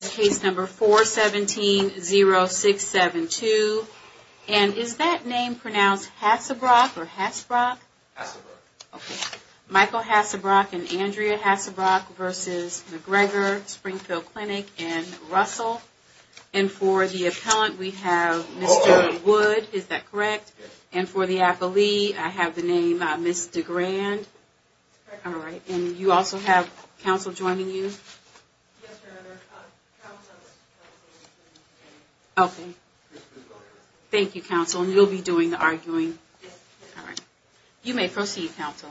Case number 417-0672. And is that name pronounced Hassebrock or Hassebrock? Hassebrock. Okay. Michael Hassebrock and Andrea Hassebrock versus McGregor, Springfield Clinic, and Russell. And for the appellant, we have Mr. Wood. Is that correct? Yes. And for the appellee, I have the name Ms. DeGrand. That's correct. All right. And you also have counsel joining you? Yes, ma'am. I have counsel. Okay. Thank you, counsel. And you'll be doing the arguing? Yes, ma'am. All right. You may proceed, counsel.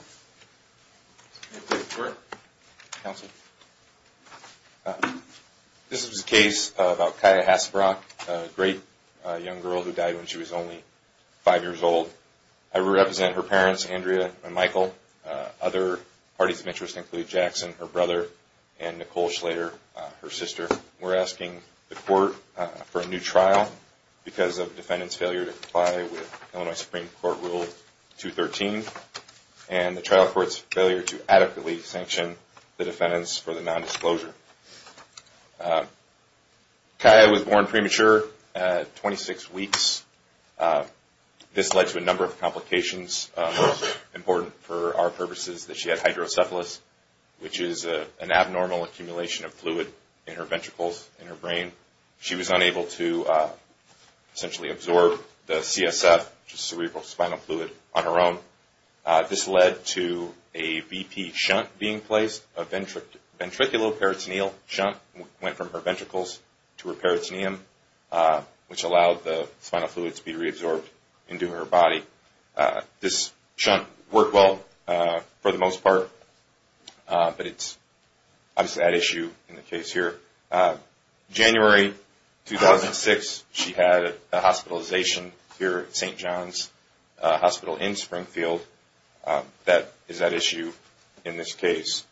This is a case about Kaya Hassebrock, a great young girl who died when she was only five years old. I represent her parents, Andrea and Michael. Other parties of interest include Jackson, her brother, and Nicole Schlater, her sister. We're asking the court for a new trial because of defendant's failure to comply with Illinois Supreme Court Rule 213 and the trial court's failure to adequately sanction the defendants for the nondisclosure. Kaya was born premature at 26 weeks. This led to a number of complications important for our purposes that she had hydrocephalus, which is an abnormal accumulation of fluid in her ventricles, in her brain. She was unable to essentially absorb the CSF, which is cerebral spinal fluid, on her own. This led to a VP shunt being placed, a ventricular peritoneal shunt, which went from her ventricles to her peritoneum, which allowed the spinal fluid to be reabsorbed into her body. This shunt worked well for the most part, but it's obviously an issue in the case here. January 2006, she had a hospitalization here at St. John's Hospital in Springfield. That is at issue in this case.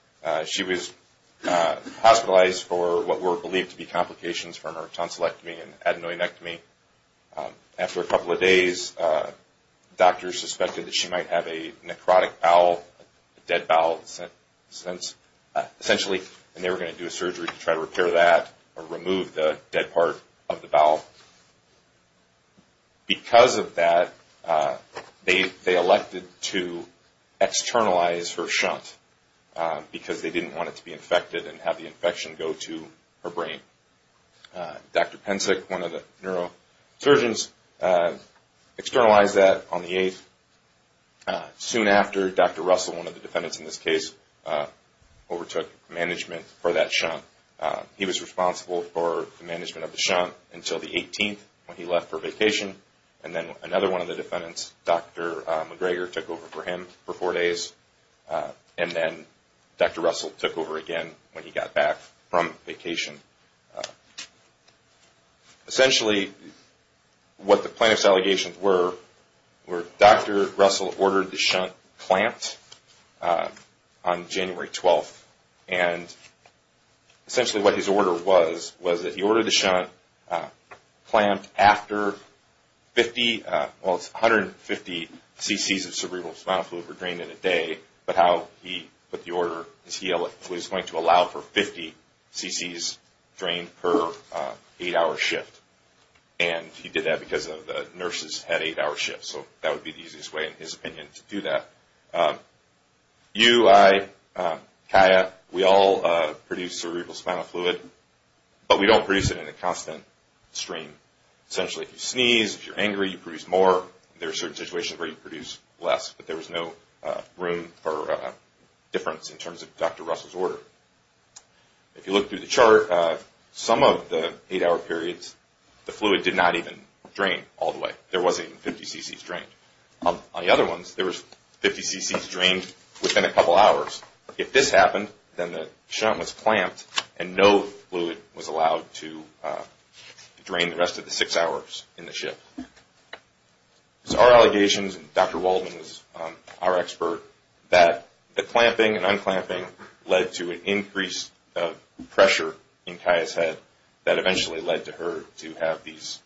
She was hospitalized for what were believed to be complications from her tonsillectomy and adenoidectomy. After a couple of days, doctors suspected that she might have a necrotic bowel, a dead bowel. Essentially, they were going to do a surgery to try to repair that or remove the dead part of the bowel. Because of that, they elected to externalize her shunt, because they didn't want it to be infected and have the infection go to her brain. Dr. Pensick, one of the neurosurgeons, externalized that on the 8th. Soon after, Dr. Russell, one of the defendants in this case, overtook management for that shunt. He was responsible for the management of the shunt until the 18th when he left for vacation. Then another one of the defendants, Dr. McGregor, took over for him for four days. Then Dr. Russell took over again when he got back from vacation. Essentially, what the plaintiff's allegations were, Dr. Russell ordered the shunt clamped on January 12th. Essentially, what his order was, was that he ordered the shunt clamped after 150 cc's of cerebral spinal fluid were drained in a day. But how he put the order was he was going to allow for 50 cc's drained per 8-hour shift. He did that because the nurses had 8-hour shifts. That would be the easiest way, in his opinion, to do that. You, I, Kaya, we all produce cerebral spinal fluid, but we don't produce it in a constant stream. Essentially, if you sneeze, if you're angry, you produce more. There are certain situations where you produce less, but there was no room for difference in terms of Dr. Russell's order. If you look through the chart, some of the 8-hour periods, the fluid did not even drain all the way. On the other ones, there was 50 cc's drained within a couple hours. If this happened, then the shunt was clamped and no fluid was allowed to drain the rest of the 6 hours in the shift. So our allegations, and Dr. Waldman was our expert, that the clamping and unclamping led to an increase of pressure in Kaya's head that eventually led to her to have these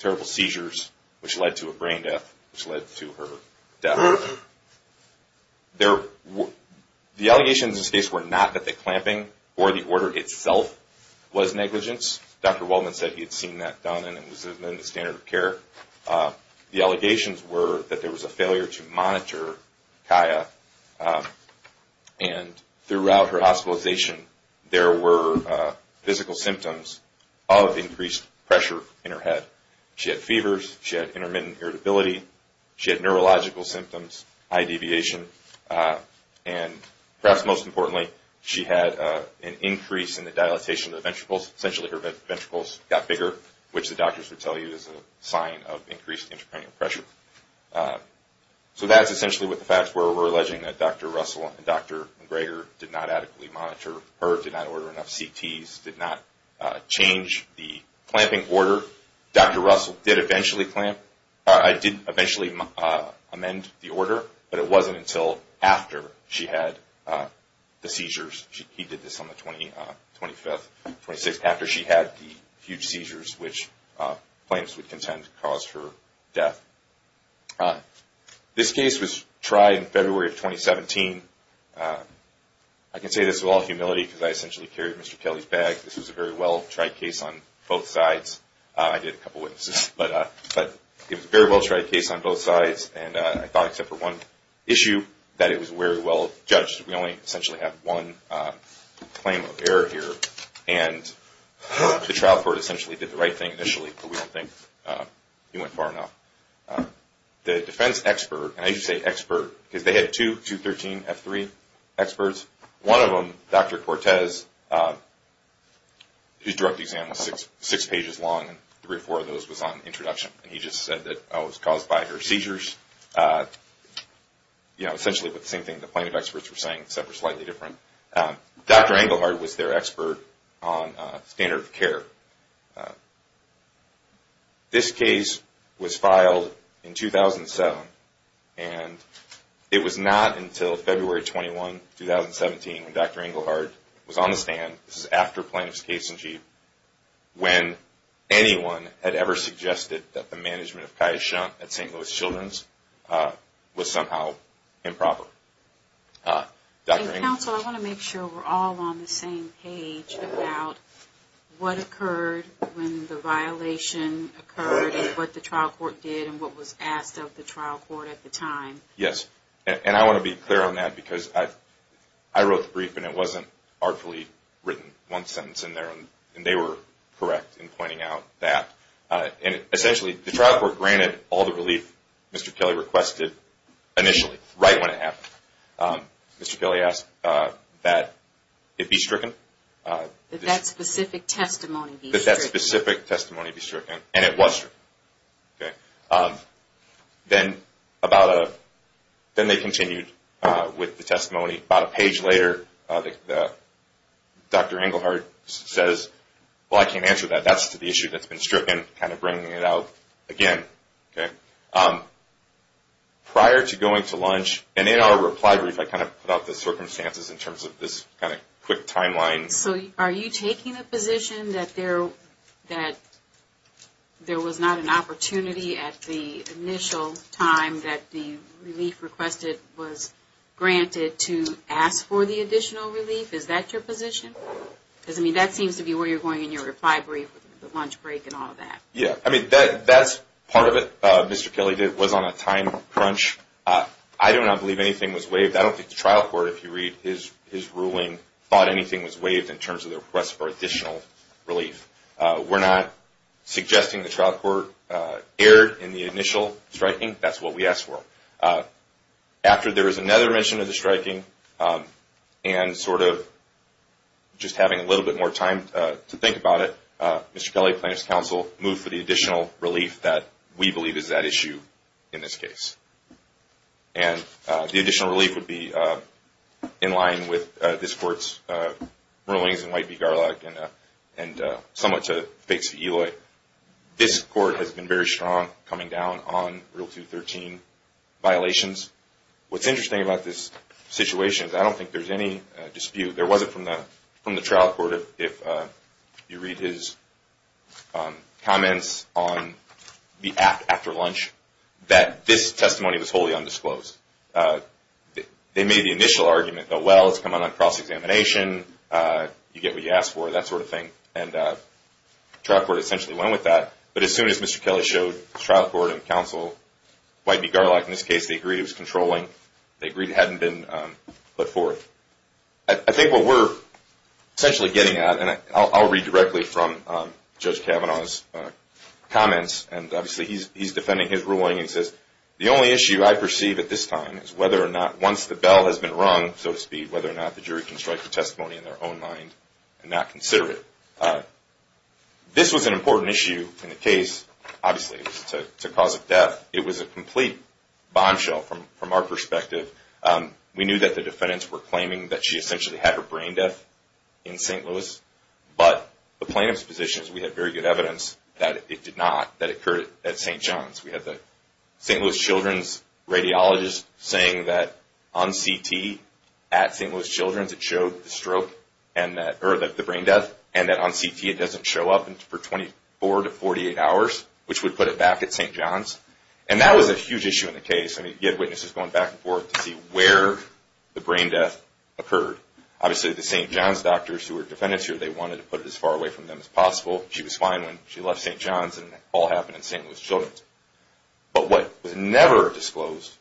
terrible seizures, which led to a brain death, which led to her death. The allegations in this case were not that the clamping or the order itself was negligence. Dr. Waldman said he had seen that done and it was within the standard of care. The allegations were that there was a failure to monitor Kaya. Throughout her hospitalization, there were physical symptoms of increased pressure in her head. She had fevers, she had intermittent irritability, she had neurological symptoms, high deviation, and perhaps most importantly, she had an increase in the dilatation of the ventricles. Essentially, her ventricles got bigger, which the doctors would tell you is a sign of increased intracranial pressure. So that's essentially what the facts were. We're alleging that Dr. Russell and Dr. McGregor did not adequately monitor her, did not order enough CTs, did not change the clamping order. Dr. Russell did eventually clamp. I did eventually amend the order, but it wasn't until after she had the seizures. He did this on the 25th, 26th, after she had the huge seizures, which plaintiffs would contend caused her death. This case was tried in February of 2017. I can say this with all humility because I essentially carried Mr. Kelly's bag. This was a very well-tried case on both sides. I did a couple of witnesses, but it was a very well-tried case on both sides. And I thought except for one issue that it was very well judged. We only essentially have one claim of error here. And the trial court essentially did the right thing initially, but we don't think he went far enough. The defense expert, and I usually say expert because they had two 213F3 experts. One of them, Dr. Cortez, his direct exam was six pages long, and three or four of those was on introduction. And he just said that, oh, it was caused by her seizures. Essentially the same thing the plaintiff experts were saying, except for slightly different. Dr. Engelhardt was their expert on standard of care. This case was filed in 2007, and it was not until February 21, 2017, when Dr. Engelhardt was on the stand. This is after plaintiff's case in chief, when anyone had ever suggested that the management of Kaishan at St. Louis Children's was somehow improper. Dr. Engelhardt. Counsel, I want to make sure we're all on the same page about what occurred when the violation occurred, and what the trial court did, and what was asked of the trial court at the time. Yes. And I want to be clear on that, because I wrote the brief, and it wasn't artfully written. One sentence in there, and they were correct in pointing out that. And essentially the trial court granted all the relief Mr. Kelly requested initially, right when it happened. Mr. Kelly asked that it be stricken. That that specific testimony be stricken. That that specific testimony be stricken, and it was stricken. Then they continued with the testimony. About a page later, Dr. Engelhardt says, well, I can't answer that. That's the issue that's been stricken, kind of bringing it out again. Prior to going to lunch, and in our reply brief, I kind of put out the circumstances in terms of this kind of quick timeline. So are you taking a position that there was not an opportunity at the initial time that the relief requested was granted to ask for the additional relief? Is that your position? Because, I mean, that seems to be where you're going in your reply brief with the lunch break and all of that. Yeah. I mean, that's part of it, Mr. Kelly. It was on a time crunch. I do not believe anything was waived. I don't think the trial court, if you read his ruling, thought anything was waived in terms of the request for additional relief. We're not suggesting the trial court erred in the initial striking. That's what we asked for. After there was another mention of the striking, and sort of just having a little bit more time to think about it, Mr. Kelly, plaintiff's counsel, moved for the additional relief that we believe is that issue in this case. And the additional relief would be in line with this court's rulings in White v. Garlock and somewhat to the face of Eloy. This court has been very strong coming down on Rule 213 violations. What's interesting about this situation is I don't think there's any dispute. There wasn't from the trial court, if you read his comments after lunch, that this testimony was wholly undisclosed. They made the initial argument that, well, it's coming on cross-examination, you get what you ask for, that sort of thing. And the trial court essentially went with that. But as soon as Mr. Kelly showed the trial court and counsel, White v. Garlock in this case, they agreed it was controlling. They agreed it hadn't been put forth. I think what we're essentially getting at, and I'll read directly from Judge Kavanaugh's comments, and obviously he's defending his ruling, he says, the only issue I perceive at this time is whether or not once the bell has been rung, so to speak, whether or not the jury can strike the testimony in their own mind and not consider it. This was an important issue in the case, obviously, to cause a death. It was a complete bombshell from our perspective. We knew that the defendants were claiming that she essentially had her brain death in St. Louis, but the plaintiff's position is we had very good evidence that it did not, that it occurred at St. John's. We had the St. Louis Children's radiologist saying that on CT at St. Louis Children's it showed the stroke, or the brain death, and that on CT it doesn't show up for 24 to 48 hours, which would put it back at St. John's. And that was a huge issue in the case. I mean, you had witnesses going back and forth to see where the brain death occurred. Obviously, the St. John's doctors who were defendants here, they wanted to put it as far away from them as possible. She was fine when she left St. John's, and it all happened in St. Louis Children's. But what was never disclosed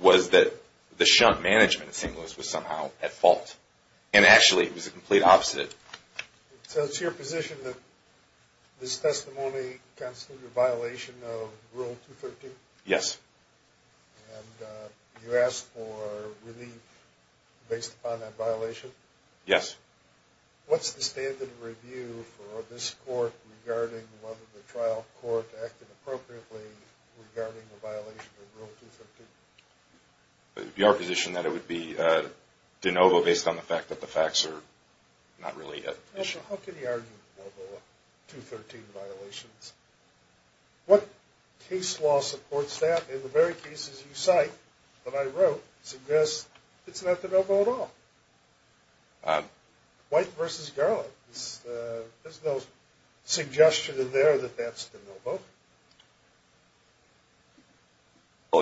was that the shunt management at St. Louis was somehow at fault. And actually, it was the complete opposite. So it's your position that this testimony constitutes a violation of Rule 213? Yes. And you asked for relief based upon that violation? Yes. What's the standard review for this court regarding whether the trial court acted appropriately regarding the violation of Rule 213? Your position that it would be de novo based on the fact that the facts are not really at issue. How can you argue de novo on 213 violations? What case law supports that? In the very cases you cite that I wrote, it suggests it's not de novo at all. White v. Garland. Well,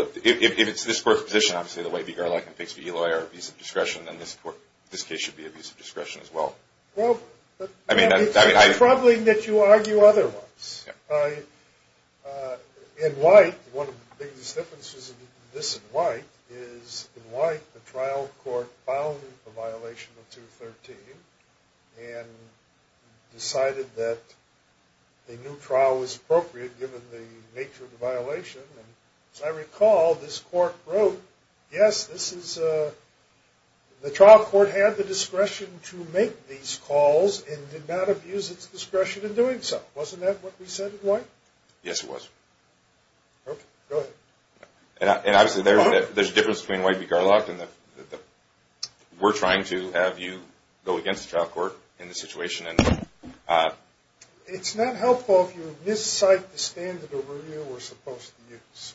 if it's this court's position, obviously, that White v. Garland and Pigsby v. Eloy are abusive discretion, then this case should be abusive discretion as well. Well, it's troubling that you argue otherwise. In White, one of the biggest differences between this and White is in White, the trial court found the violation of 213 and decided that a new trial was appropriate given the nature of the violation. As I recall, this court wrote, yes, this is a, the trial court had the discretion to make these calls and did not abuse its discretion in doing so. Wasn't that what we said in White? Yes, it was. Okay, go ahead. And obviously, there's a difference between White v. Garland. We're trying to have you go against the trial court in this situation. It's not helpful if you miscite the standard of review we're supposed to use.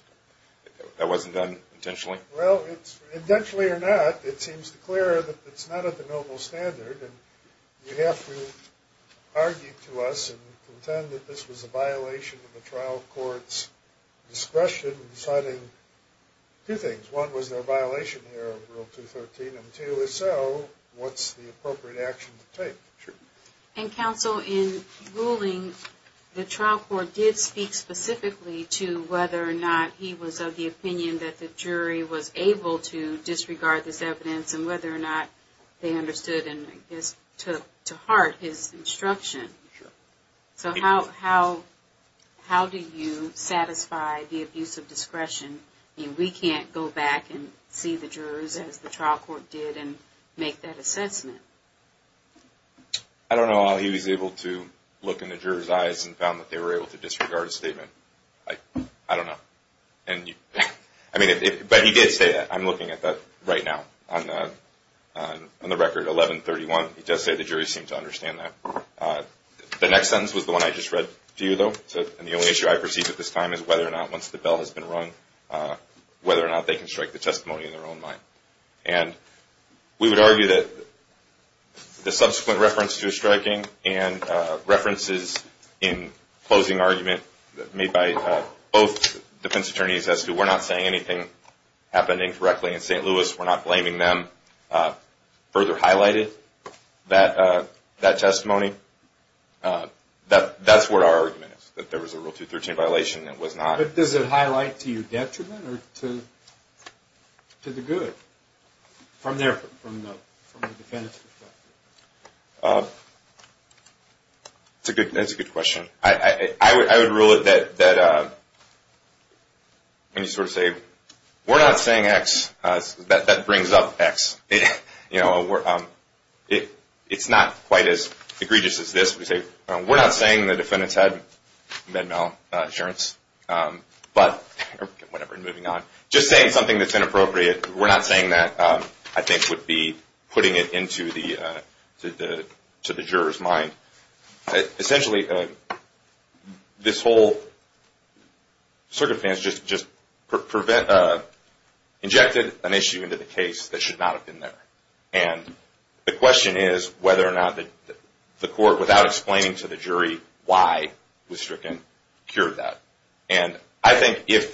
That wasn't done intentionally? Well, it's, intentionally or not, it seems clear that it's not a de novo standard. And you have to argue to us and contend that this was a violation of the trial court's discretion in deciding two things. One was their violation here of Rule 213, and two is so, what's the appropriate action to take? Sure. And counsel, in ruling, the trial court did speak specifically to whether or not he was of the opinion that the jury was able to disregard this evidence and whether or not they understood and, I guess, took to heart his instruction. Sure. So how do you satisfy the abuse of discretion? I mean, we can't go back and see the jurors as the trial court did and make that assessment. I don't know how he was able to look in the jurors' eyes and found that they were able to disregard his statement. I don't know. I mean, but he did say that. I'm looking at that right now on the record 1131. He does say the jury seemed to understand that. The next sentence was the one I just read to you, though, and the only issue I perceive at this time is whether or not, once the bell has been rung, whether or not they can strike the testimony in their own mind. And we would argue that the subsequent reference to a striking and references in closing argument made by both defense attorneys as to we're not saying anything happening correctly in St. Louis, we're not blaming them, further highlighted that testimony. That's what our argument is, that there was a Rule 213 violation and it was not. Does it highlight to you detriment or to the good from the defendant's perspective? That's a good question. I would rule it that when you sort of say we're not saying X, that brings up X. It's not quite as egregious as this. We say we're not saying the defendant's had med-mal insurance, but whatever, moving on, just saying something that's inappropriate, we're not saying that I think would be putting it into the juror's mind. Essentially, this whole circumstance just injected an issue into the case that should not have been there. And the question is whether or not the court, without explaining to the jury why it was stricken, cured that. And I think it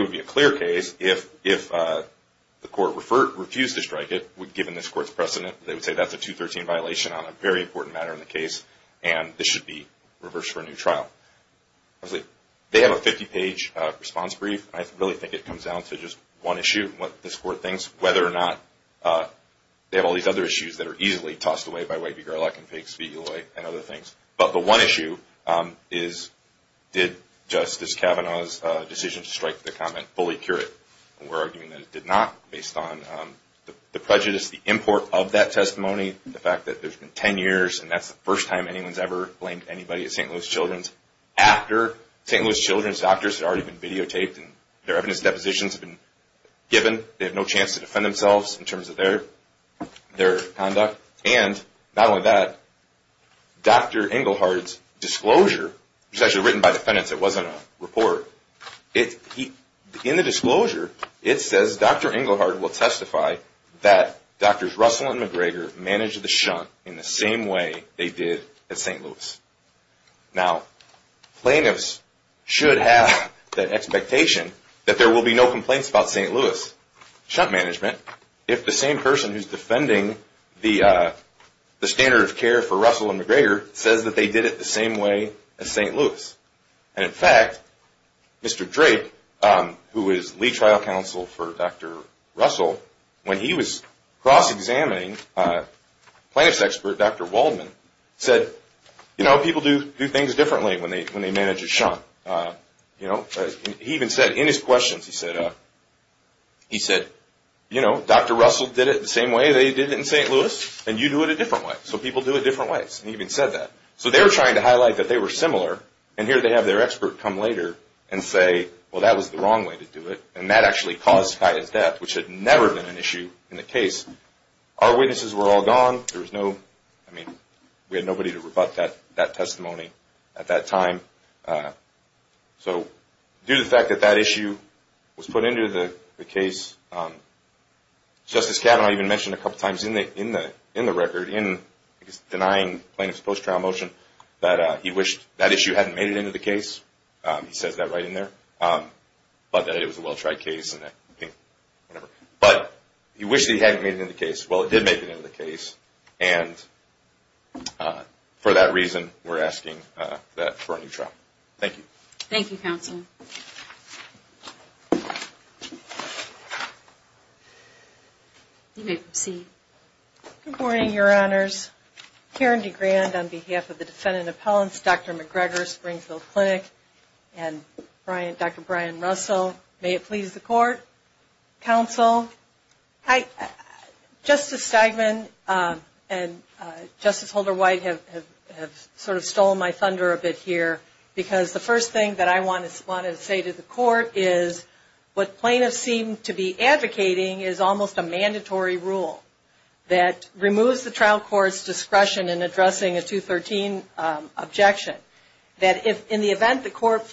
would be a clear case if the court refused to strike it, given this court's precedent, they would say that's a 213 violation on a very important matter in the case, and this should be reversed for a new trial. They have a 50-page response brief. I really think it comes down to just one issue, what this court thinks, whether or not they have all these other issues that are easily tossed away by White v. Garlock and Figs v. Eloy and other things. But the one issue is did Justice Kavanaugh's decision to strike the comment fully cure it? We're arguing that it did not, based on the prejudice, the import of that testimony, the fact that there's been 10 years, and that's the first time anyone's ever blamed anybody at St. Louis Children's, after St. Louis Children's doctors had already been videotaped and their evidence depositions had been given. They had no chance to defend themselves in terms of their conduct. And not only that, Dr. Engelhardt's disclosure, which was actually written by defendants. It wasn't a report. In the disclosure, it says Dr. Engelhardt will testify that Drs. Russell and McGregor managed the shunt in the same way they did at St. Louis. Now, plaintiffs should have that expectation that there will be no complaints about St. Louis shunt management if the same person who's defending the standard of care for Russell and McGregor says that they did it the same way as St. Louis. And in fact, Mr. Drake, who is lead trial counsel for Dr. Russell, when he was cross-examining plaintiff's expert, Dr. Waldman, said, you know, people do things differently when they manage a shunt. You know, he even said in his questions, he said, you know, Dr. Russell did it the same way they did it in St. Louis, and you do it a different way. So people do it different ways. He even said that. So they were trying to highlight that they were similar, and here they have their expert come later and say, well, that was the wrong way to do it, and that actually caused Tya's death, which had never been an issue in the case. Our witnesses were all gone. There was no, I mean, we had nobody to rebut that testimony at that time. So due to the fact that that issue was put into the case, Justice Kavanaugh even mentioned a couple times in the record, in his denying plaintiff's post-trial motion, that he wished that issue hadn't made it into the case. He says that right in there, but that it was a well-tried case, and I think, whatever. But he wished that he hadn't made it into the case. Well, it did make it into the case, and for that reason, we're asking that for a new trial. Thank you. Thank you, counsel. You may proceed. Good morning, Your Honors. Karen DeGrand on behalf of the Defendant Appellants, Dr. McGregor, Springfield Clinic, and Dr. Brian Russell. May it please the Court. Counsel. Hi. Justice Steigman and Justice Holder-White have sort of stolen my thunder a bit here, because the first thing that I wanted to say to the Court is what plaintiffs seem to be advocating is almost a mandatory rule that removes the trial court's discretion in addressing a 213 objection. That if, in the event the court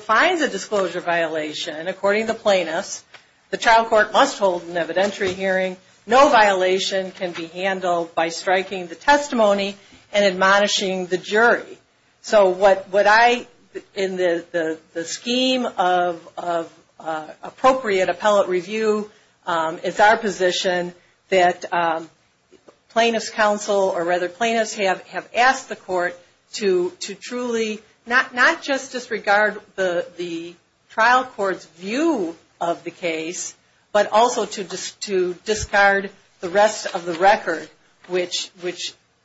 finds a disclosure violation, according to plaintiffs, the trial court must hold an evidentiary hearing. No violation can be handled by striking the testimony and admonishing the jury. So what I, in the scheme of appropriate appellate review, it's our position that plaintiffs counsel, or rather plaintiffs have asked the Court to truly not just disregard the trial court's view of the case, but also to discard the rest of the record, which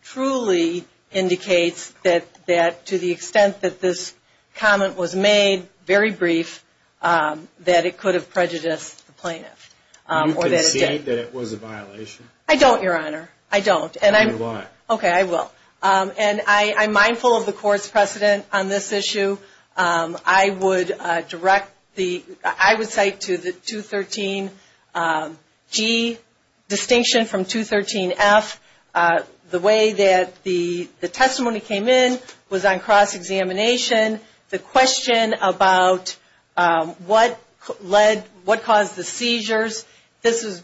truly indicates that to the extent that this comment was made, very brief, that it could have prejudiced the plaintiff. Do you concede that it was a violation? I don't, Your Honor. I don't. Then why? Okay, I will. I'm mindful of the Court's precedent on this issue. I would cite to the 213G distinction from 213F the way that the testimony came in was on cross-examination. The question about what caused the seizures, this is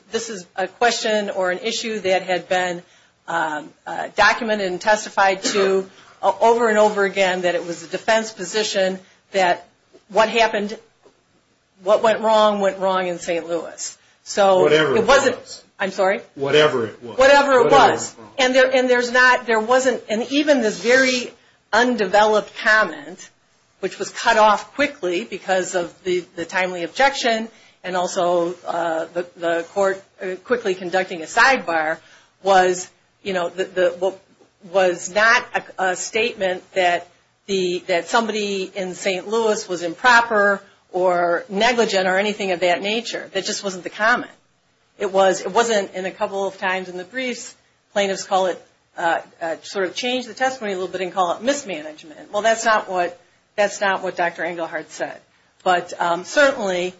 a question or an issue that had been documented and testified to over and over again, that it was a defense position that what happened, what went wrong, went wrong in St. Louis. Whatever it was. I'm sorry? Whatever it was. Whatever it was. And there's not, there wasn't, and even this very undeveloped comment, which was cut off quickly because of the timely objection and also the Court quickly conducting a sidebar, was not a statement that somebody in St. Louis was improper or negligent or anything of that nature. That just wasn't the comment. It wasn't in a couple of times in the briefs, plaintiffs call it, sort of change the testimony a little bit and call it mismanagement. Well, that's not what Dr. Engelhardt said. But certainly,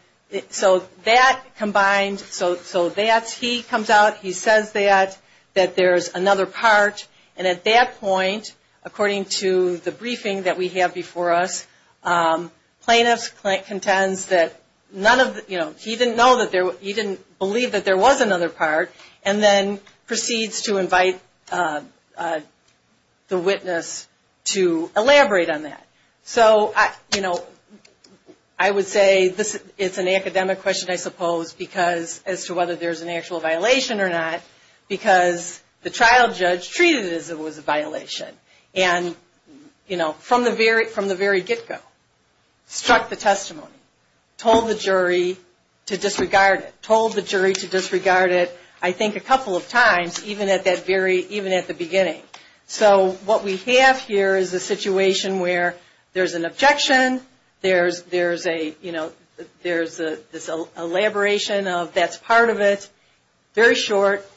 so that combined, so that's, he comes out, he says that, that there's another part, and at that point, according to the briefing that we have before us, plaintiffs contends that none of, you know, he didn't know that there, he didn't believe that there was another part, and then proceeds to invite the witness to elaborate on that. So, you know, I would say this, it's an academic question, I suppose, because as to whether there's an actual violation or not, because the trial judge treated it as if it was a violation. And, you know, from the very, from the very get-go, struck the testimony, told the jury to disregard it, I think a couple of times, even at that very, even at the beginning. So, what we have here is a situation where there's an objection, there's, there's a, you know, there's this elaboration of that's part of it, very short,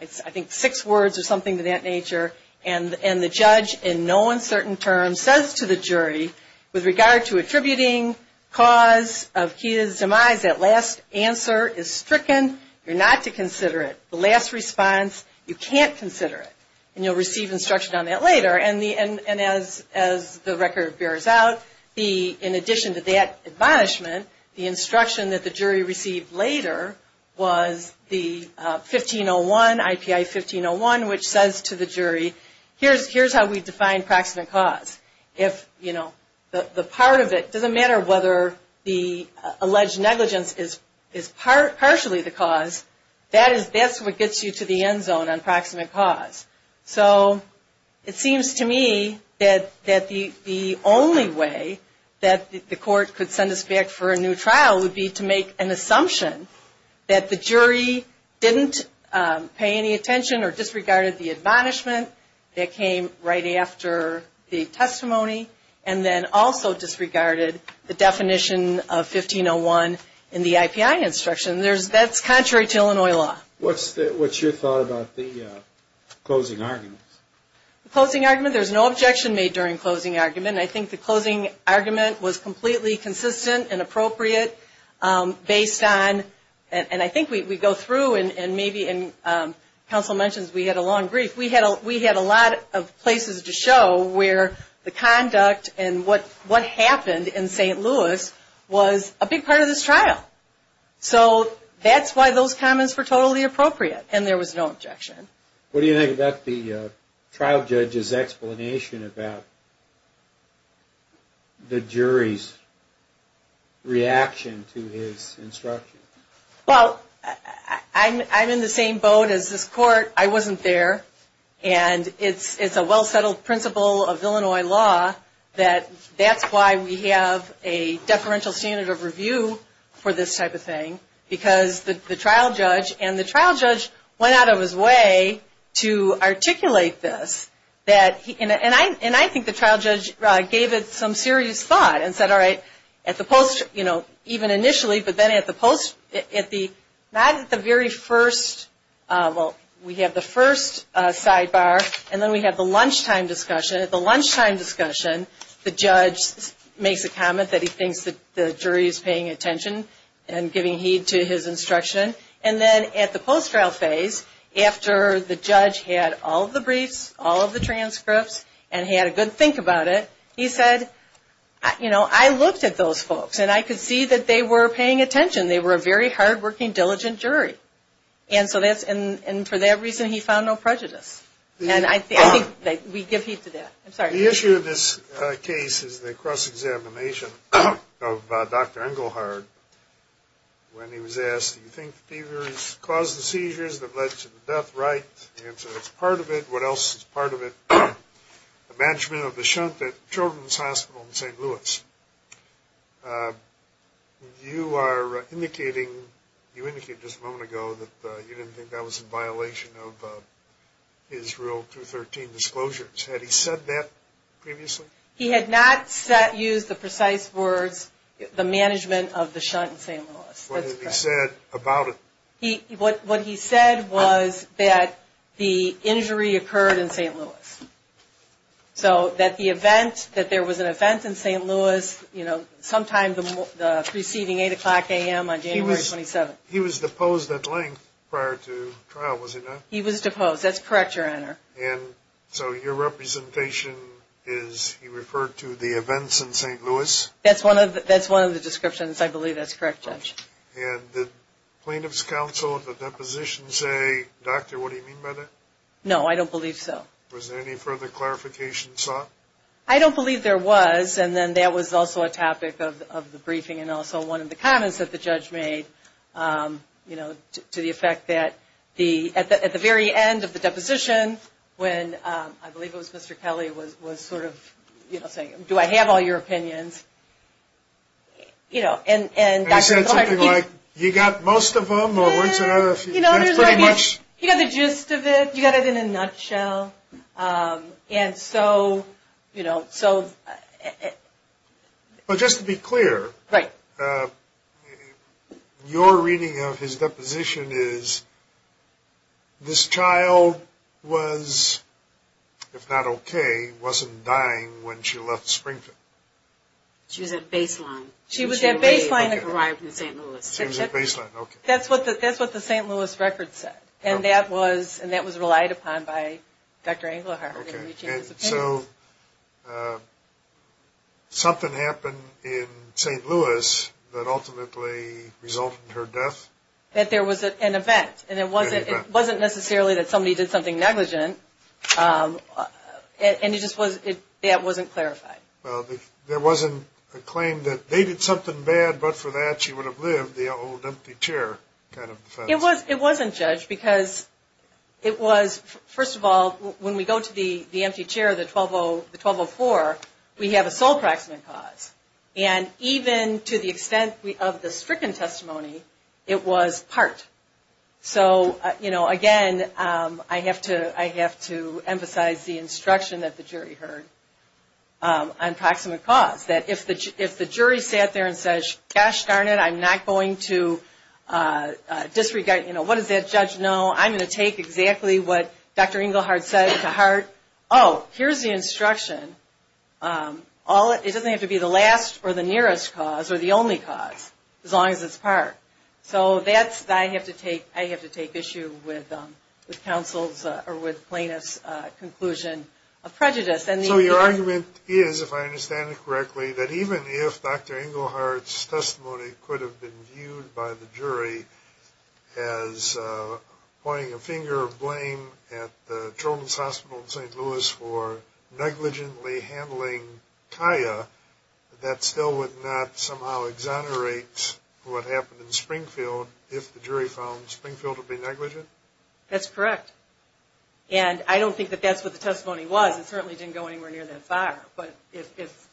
I think six words or something to that nature, and the judge in no uncertain terms says to the jury, with regard to attributing cause of his demise, that last answer is stricken, you're not to consider it. The last response, you can't consider it, and you'll receive instruction on that later. And the, and as, as the record bears out, the, in addition to that admonishment, the instruction that the jury received later was the 1501, IPI 1501, which says to the jury, here's, here's how we define proximate cause. If, you know, the part of it, doesn't matter whether the alleged negligence is, is partially the cause, that is, that's what gets you to the end zone on proximate cause. So, it seems to me that, that the, the only way that the court could send us back for a new trial would be to make an assumption that the jury didn't pay any attention or disregarded the admonishment that came right after the testimony, and then also disregarded the definition of 1501 in the IPI instruction. There's, that's contrary to Illinois law. What's the, what's your thought about the closing argument? The closing argument, there's no objection made during closing argument, and I think the closing argument was completely consistent and appropriate, based on, and I think we go through, and maybe, and counsel mentions we had a long brief, we had a lot of places to show where the conduct and what, what happened in St. Louis was a big part of this trial. So, that's why those comments were totally appropriate, and there was no objection. What do you think about the trial judge's explanation about the jury's reaction to his instruction? Well, I'm, I'm in the same boat as this court. I wasn't there, and it's, it's a well-settled principle of Illinois law that that's why we have a deferential standard of review for this type of thing, because the, the trial judge, and the trial judge went out of his way to articulate this, that he, and I, and I think the trial judge gave it some serious thought and said, all right, at the post, you know, even initially, but then at the post, at the, not at the very first, well, we have the first sidebar, and then we have the lunchtime discussion. At the lunchtime discussion, the judge makes a comment that he thinks that the jury is paying attention and giving heed to his instruction, and then at the post-trial phase, after the judge had all of the briefs, all of the transcripts, and had a good think about it, he said, you know, I looked at those folks, and I could see that they were paying attention. They were a very hardworking, diligent jury, and so that's, and for that reason, he found no prejudice, and I think that we give heed to that. I'm sorry. The issue of this case is the cross-examination of Dr. Engelhardt when he was asked, do you think the fever has caused the seizures that led to the death right? And so that's part of it. What else is part of it? The management of the shunt at Children's Hospital in St. Louis. You are indicating, you indicated just a moment ago that you didn't think that was in violation of Israel 213 disclosures. Had he said that previously? He had not said, used the precise words, the management of the shunt in St. Louis. What had he said about it? What he said was that the injury occurred in St. Louis. So that the event, that there was an event in St. Louis, you know, sometime preceding 8 o'clock a.m. on January 27th. He was deposed at length prior to trial, was he not? He was deposed. That's correct, Your Honor. And so your representation is he referred to the events in St. Louis? I believe that's correct, Judge. And did plaintiff's counsel at the deposition say, Doctor, what do you mean by that? No, I don't believe so. Was there any further clarification sought? I don't believe there was. And then that was also a topic of the briefing and also one of the comments that the judge made, you know, to the effect that at the very end of the deposition when, I believe it was Mr. Kelly, was sort of, you know, saying, do I have all your opinions? And, you know, and Doctor. And he said something like, you got most of them or what's the other? You know, he got the gist of it. You got it in a nutshell. And so, you know, so. But just to be clear. Right. Your reading of his deposition is this child was, if not okay, wasn't dying when she left Springfield. She was at baseline. She was at baseline when she arrived in St. Louis. She was at baseline. Okay. That's what the St. Louis record said. And that was relied upon by Dr. Engelhardt. Okay. So something happened in St. Louis that ultimately resulted in her death? That there was an event. An event. And it wasn't necessarily that somebody did something negligent. And it just was, that wasn't clarified. Well, there wasn't a claim that they did something bad, but for that she would have lived. The old empty chair kind of defense. It wasn't judged because it was, first of all, when we go to the empty chair, the 1204, we have a sole practicum in cause. And even to the extent of the stricken testimony, it was part. So, you know, again, I have to emphasize the instruction that the jury heard on proximate cause. That if the jury sat there and says, gosh darn it, I'm not going to disregard, you know, what does that judge know? I'm going to take exactly what Dr. Engelhardt said to heart. Oh, here's the instruction. It doesn't have to be the last or the nearest cause or the only cause, as long as it's part. So that's, I have to take issue with counsel's or with plaintiff's conclusion of prejudice. So your argument is, if I understand it correctly, that even if Dr. Engelhardt's testimony could have been viewed by the jury as pointing a finger of blame at the Children's Hospital in St. Louis for negligently handling Kaya, that still would not somehow exonerate what happened in Springfield if the jury found Springfield to be negligent? That's correct. And I don't think that that's what the testimony was. It certainly didn't go anywhere near that far. But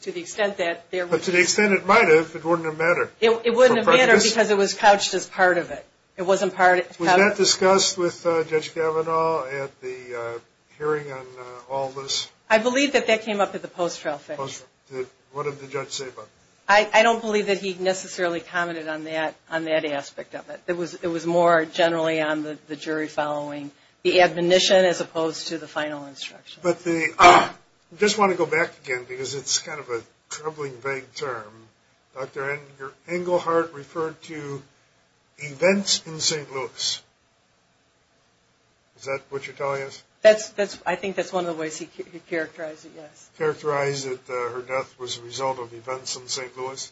to the extent that there was. But to the extent it might have, it wouldn't have mattered. It wouldn't have mattered because it was couched as part of it. It wasn't part. Was that discussed with Judge Kavanaugh at the hearing on all this? I believe that that came up at the post-trial fix. What did the judge say about it? I don't believe that he necessarily commented on that aspect of it. It was more generally on the jury following the admonition as opposed to the final instruction. But the, I just want to go back again because it's kind of a troubling vague term. Dr. Engelhardt referred to events in St. Louis. Is that what you're telling us? I think that's one of the ways he characterized it, yes. Characterized that her death was a result of events in St. Louis?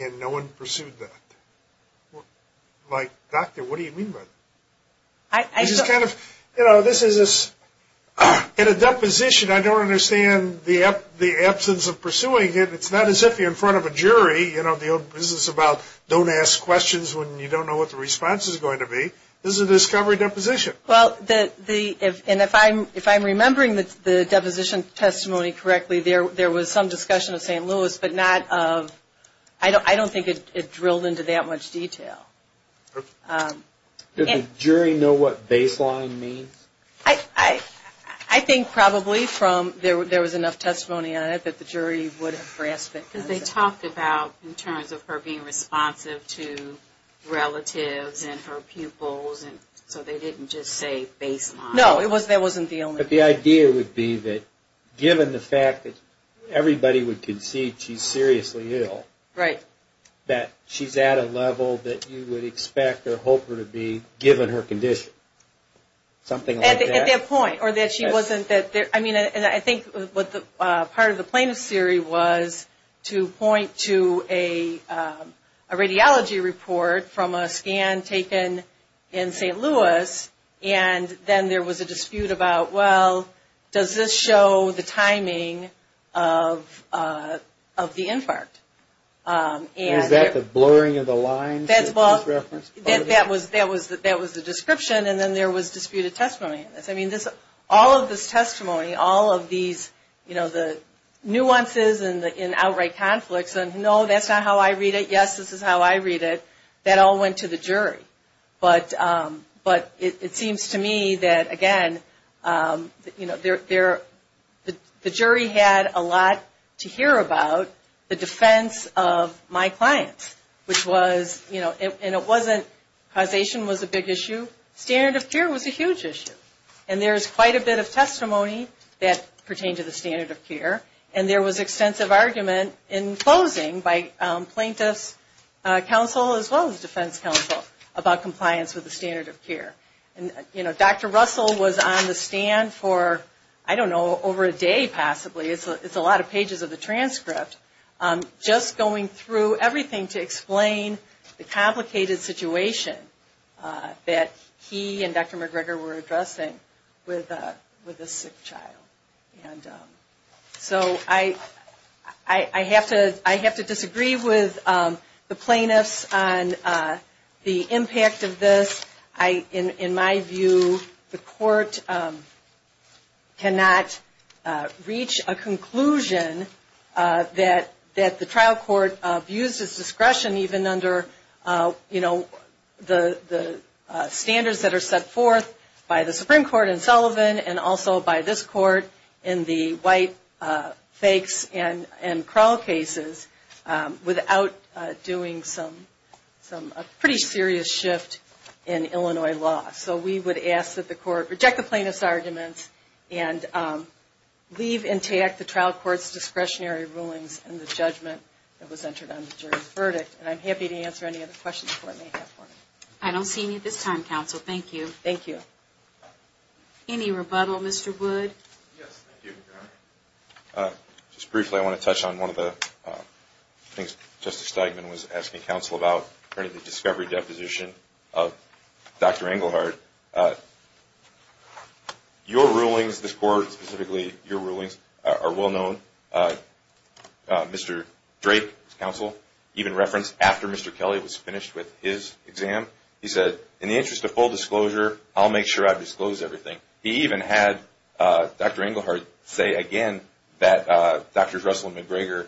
And no one pursued that? Like, doctor, what do you mean by that? It's just kind of, you know, this is a deposition. I don't understand the absence of pursuing it. It's not as if you're in front of a jury, you know, the old business about don't ask questions when you don't know what the response is going to be. This is a discovery deposition. Well, and if I'm remembering the deposition testimony correctly, there was some discussion of St. Louis, but not of, I don't think it drilled into that much detail. Did the jury know what baseline means? I think probably from, there was enough testimony on it that the jury would have grasped it. Because they talked about, in terms of her being responsive to relatives and her pupils, and so they didn't just say baseline. No, that wasn't the only thing. But the idea would be that given the fact that everybody would concede she's seriously ill, that she's at a level that you would expect or hope her to be given her condition. Something like that? At that point, or that she wasn't, I mean, I think part of the plaintiff's theory was to point to a radiology report from a scan taken in St. Louis, and then there was a dispute about, well, does this show the timing of the infarct? Is that the blurring of the lines? That was the description, and then there was disputed testimony. All of this testimony, all of these nuances and outright conflicts, and no, that's not how I read it, yes, this is how I read it, that all went to the jury. But it seems to me that, again, the jury had a lot to hear about the defense of my clients, which was, you know, and it wasn't causation was a big issue, standard of care was a huge issue. And there's quite a bit of testimony that pertained to the standard of care, and there was extensive argument in closing by plaintiff's counsel as well as defense counsel about compliance with the standard of care. And, you know, Dr. Russell was on the stand for, I don't know, over a day possibly, it's a lot of pages of the transcript, just going through everything to explain the complicated situation that he and Dr. McGregor were addressing with a sick child. So I have to disagree with the plaintiffs on the impact of this. In my view, the court cannot reach a conclusion that the trial court abused its discretion even under, you know, the standards that are set forth by the Supreme Court in Sullivan and also by this court in the white fakes and crawl cases without doing some pretty serious shift in Illinois law. So we would ask that the court reject the plaintiff's arguments and leave intact the trial court's discretionary rulings and the judgment that was entered on the jury's verdict. And I'm happy to answer any other questions the court may have for me. I don't see any at this time, counsel. Thank you. Thank you. Any rebuttal, Mr. Wood? Yes, thank you. Just briefly, I want to touch on one of the things Justice Steigman was asking counsel about, regarding the discovery deposition of Dr. Engelhard. Your rulings, this court specifically, your rulings are well known. Mr. Drake, counsel, even referenced after Mr. Kelly was finished with his exam, he said, in the interest of full disclosure, I'll make sure I disclose everything. He even had Dr. Engelhard say again that Drs. Russell and McGregor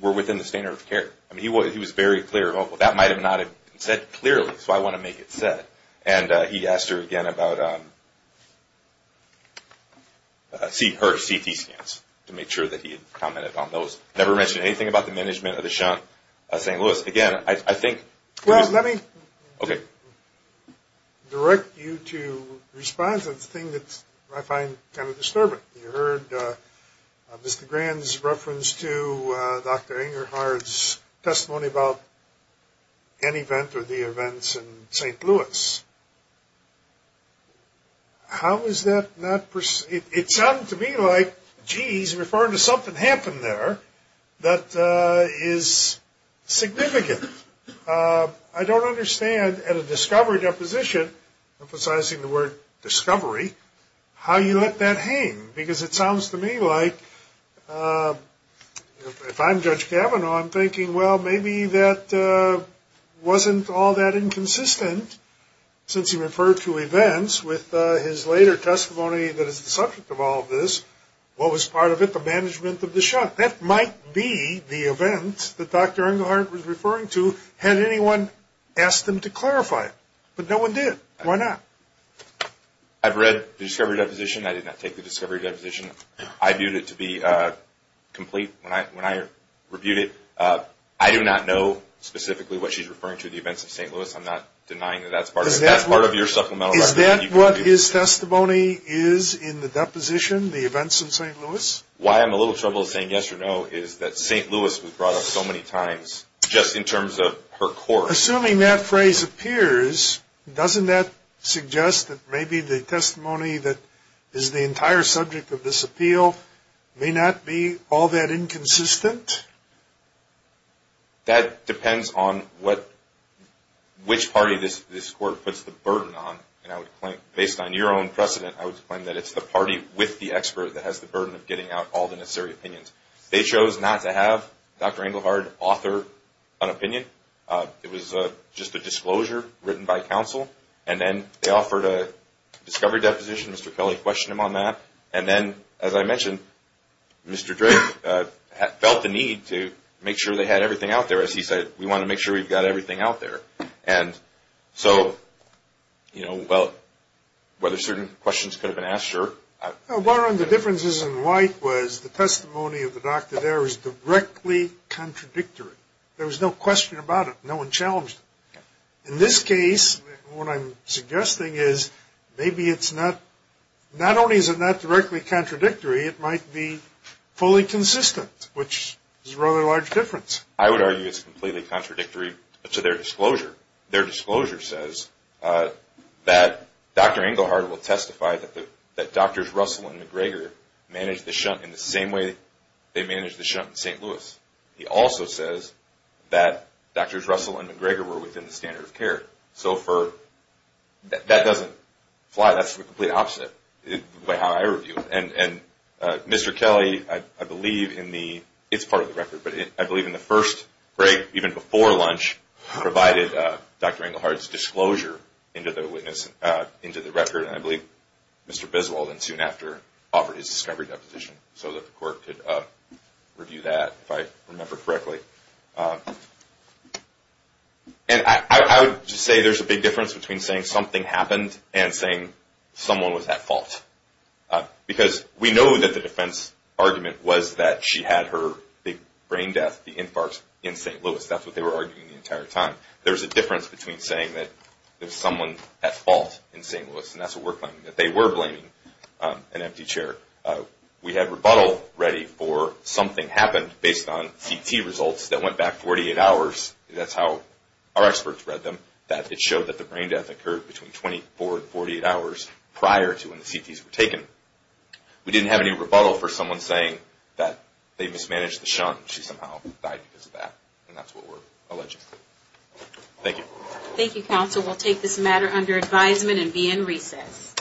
were within the standard of care. I mean, he was very clear. Well, that might have not been said clearly, so I want to make it said. And he asked her again about her CT scans to make sure that he commented on those. Never mentioned anything about the management of the Shunt St. Louis. Well, let me direct you to respond to the thing that I find kind of disturbing. You heard Mr. Grand's reference to Dr. Engelhard's testimony about an event or the events in St. Louis. How is that not, it sounded to me like, geez, referring to something happened there that is significant. I don't understand at a discovery deposition, emphasizing the word discovery, how you let that hang. Because it sounds to me like, if I'm Judge Kavanaugh, I'm thinking, well, maybe that wasn't all that inconsistent since he referred to events with his later testimony that is the subject of all this. What was part of it? The management of the Shunt. That might be the event that Dr. Engelhard was referring to had anyone asked him to clarify it. But no one did. Why not? I've read the discovery deposition. I did not take the discovery deposition. I viewed it to be complete when I reviewed it. I do not know specifically what she's referring to, the events of St. Louis. I'm not denying that that's part of it. Is that what his testimony is in the deposition, the events in St. Louis? Why I'm a little troubled saying yes or no is that St. Louis was brought up so many times just in terms of her court. Assuming that phrase appears, doesn't that suggest that maybe the testimony that is the entire subject of this appeal may not be all that inconsistent? That depends on which party this court puts the burden on. Based on your own precedent, I would claim that it's the party with the expert that has the burden of getting out all the necessary opinions. They chose not to have Dr. Engelhard author an opinion. It was just a disclosure written by counsel. And then they offered a discovery deposition. Mr. Kelly questioned him on that. And then, as I mentioned, Mr. Drake felt the need to make sure they had everything out there. As he said, we want to make sure we've got everything out there. And so, you know, well, whether certain questions could have been asked, sure. Well, one of the differences in White was the testimony of the doctor there was directly contradictory. There was no question about it. No one challenged it. In this case, what I'm suggesting is maybe it's not only is it not directly contradictory, it might be fully consistent, which is a rather large difference. I would argue it's completely contradictory to their disclosure. Their disclosure says that Dr. Engelhard will testify that Drs. Russell and McGregor managed the shunt in the same way they managed the shunt in St. Louis. He also says that Drs. Russell and McGregor were within the standard of care. So that doesn't fly. That's the complete opposite by how I review it. And Mr. Kelly, I believe in the – it's part of the record, but I believe in the first break, even before lunch, provided Dr. Engelhard's disclosure into the record. And I believe Mr. Biswald, soon after, offered his discovery deposition so that the court could review that, if I remember correctly. And I would just say there's a big difference between saying something happened and saying someone was at fault. Because we know that the defense argument was that she had her brain death, the infarct, in St. Louis. That's what they were arguing the entire time. There's a difference between saying that there's someone at fault in St. Louis. And that's what we're claiming, that they were blaming an empty chair. We had rebuttal ready for something happened based on CT results that went back 48 hours. That's how our experts read them, that it showed that the brain death occurred between 24 and 48 hours prior to when the CTs were taken. We didn't have any rebuttal for someone saying that they mismanaged the shunt. She somehow died because of that, and that's what we're alleging. Thank you. Thank you, counsel. We'll take this matter under advisement and be in recess.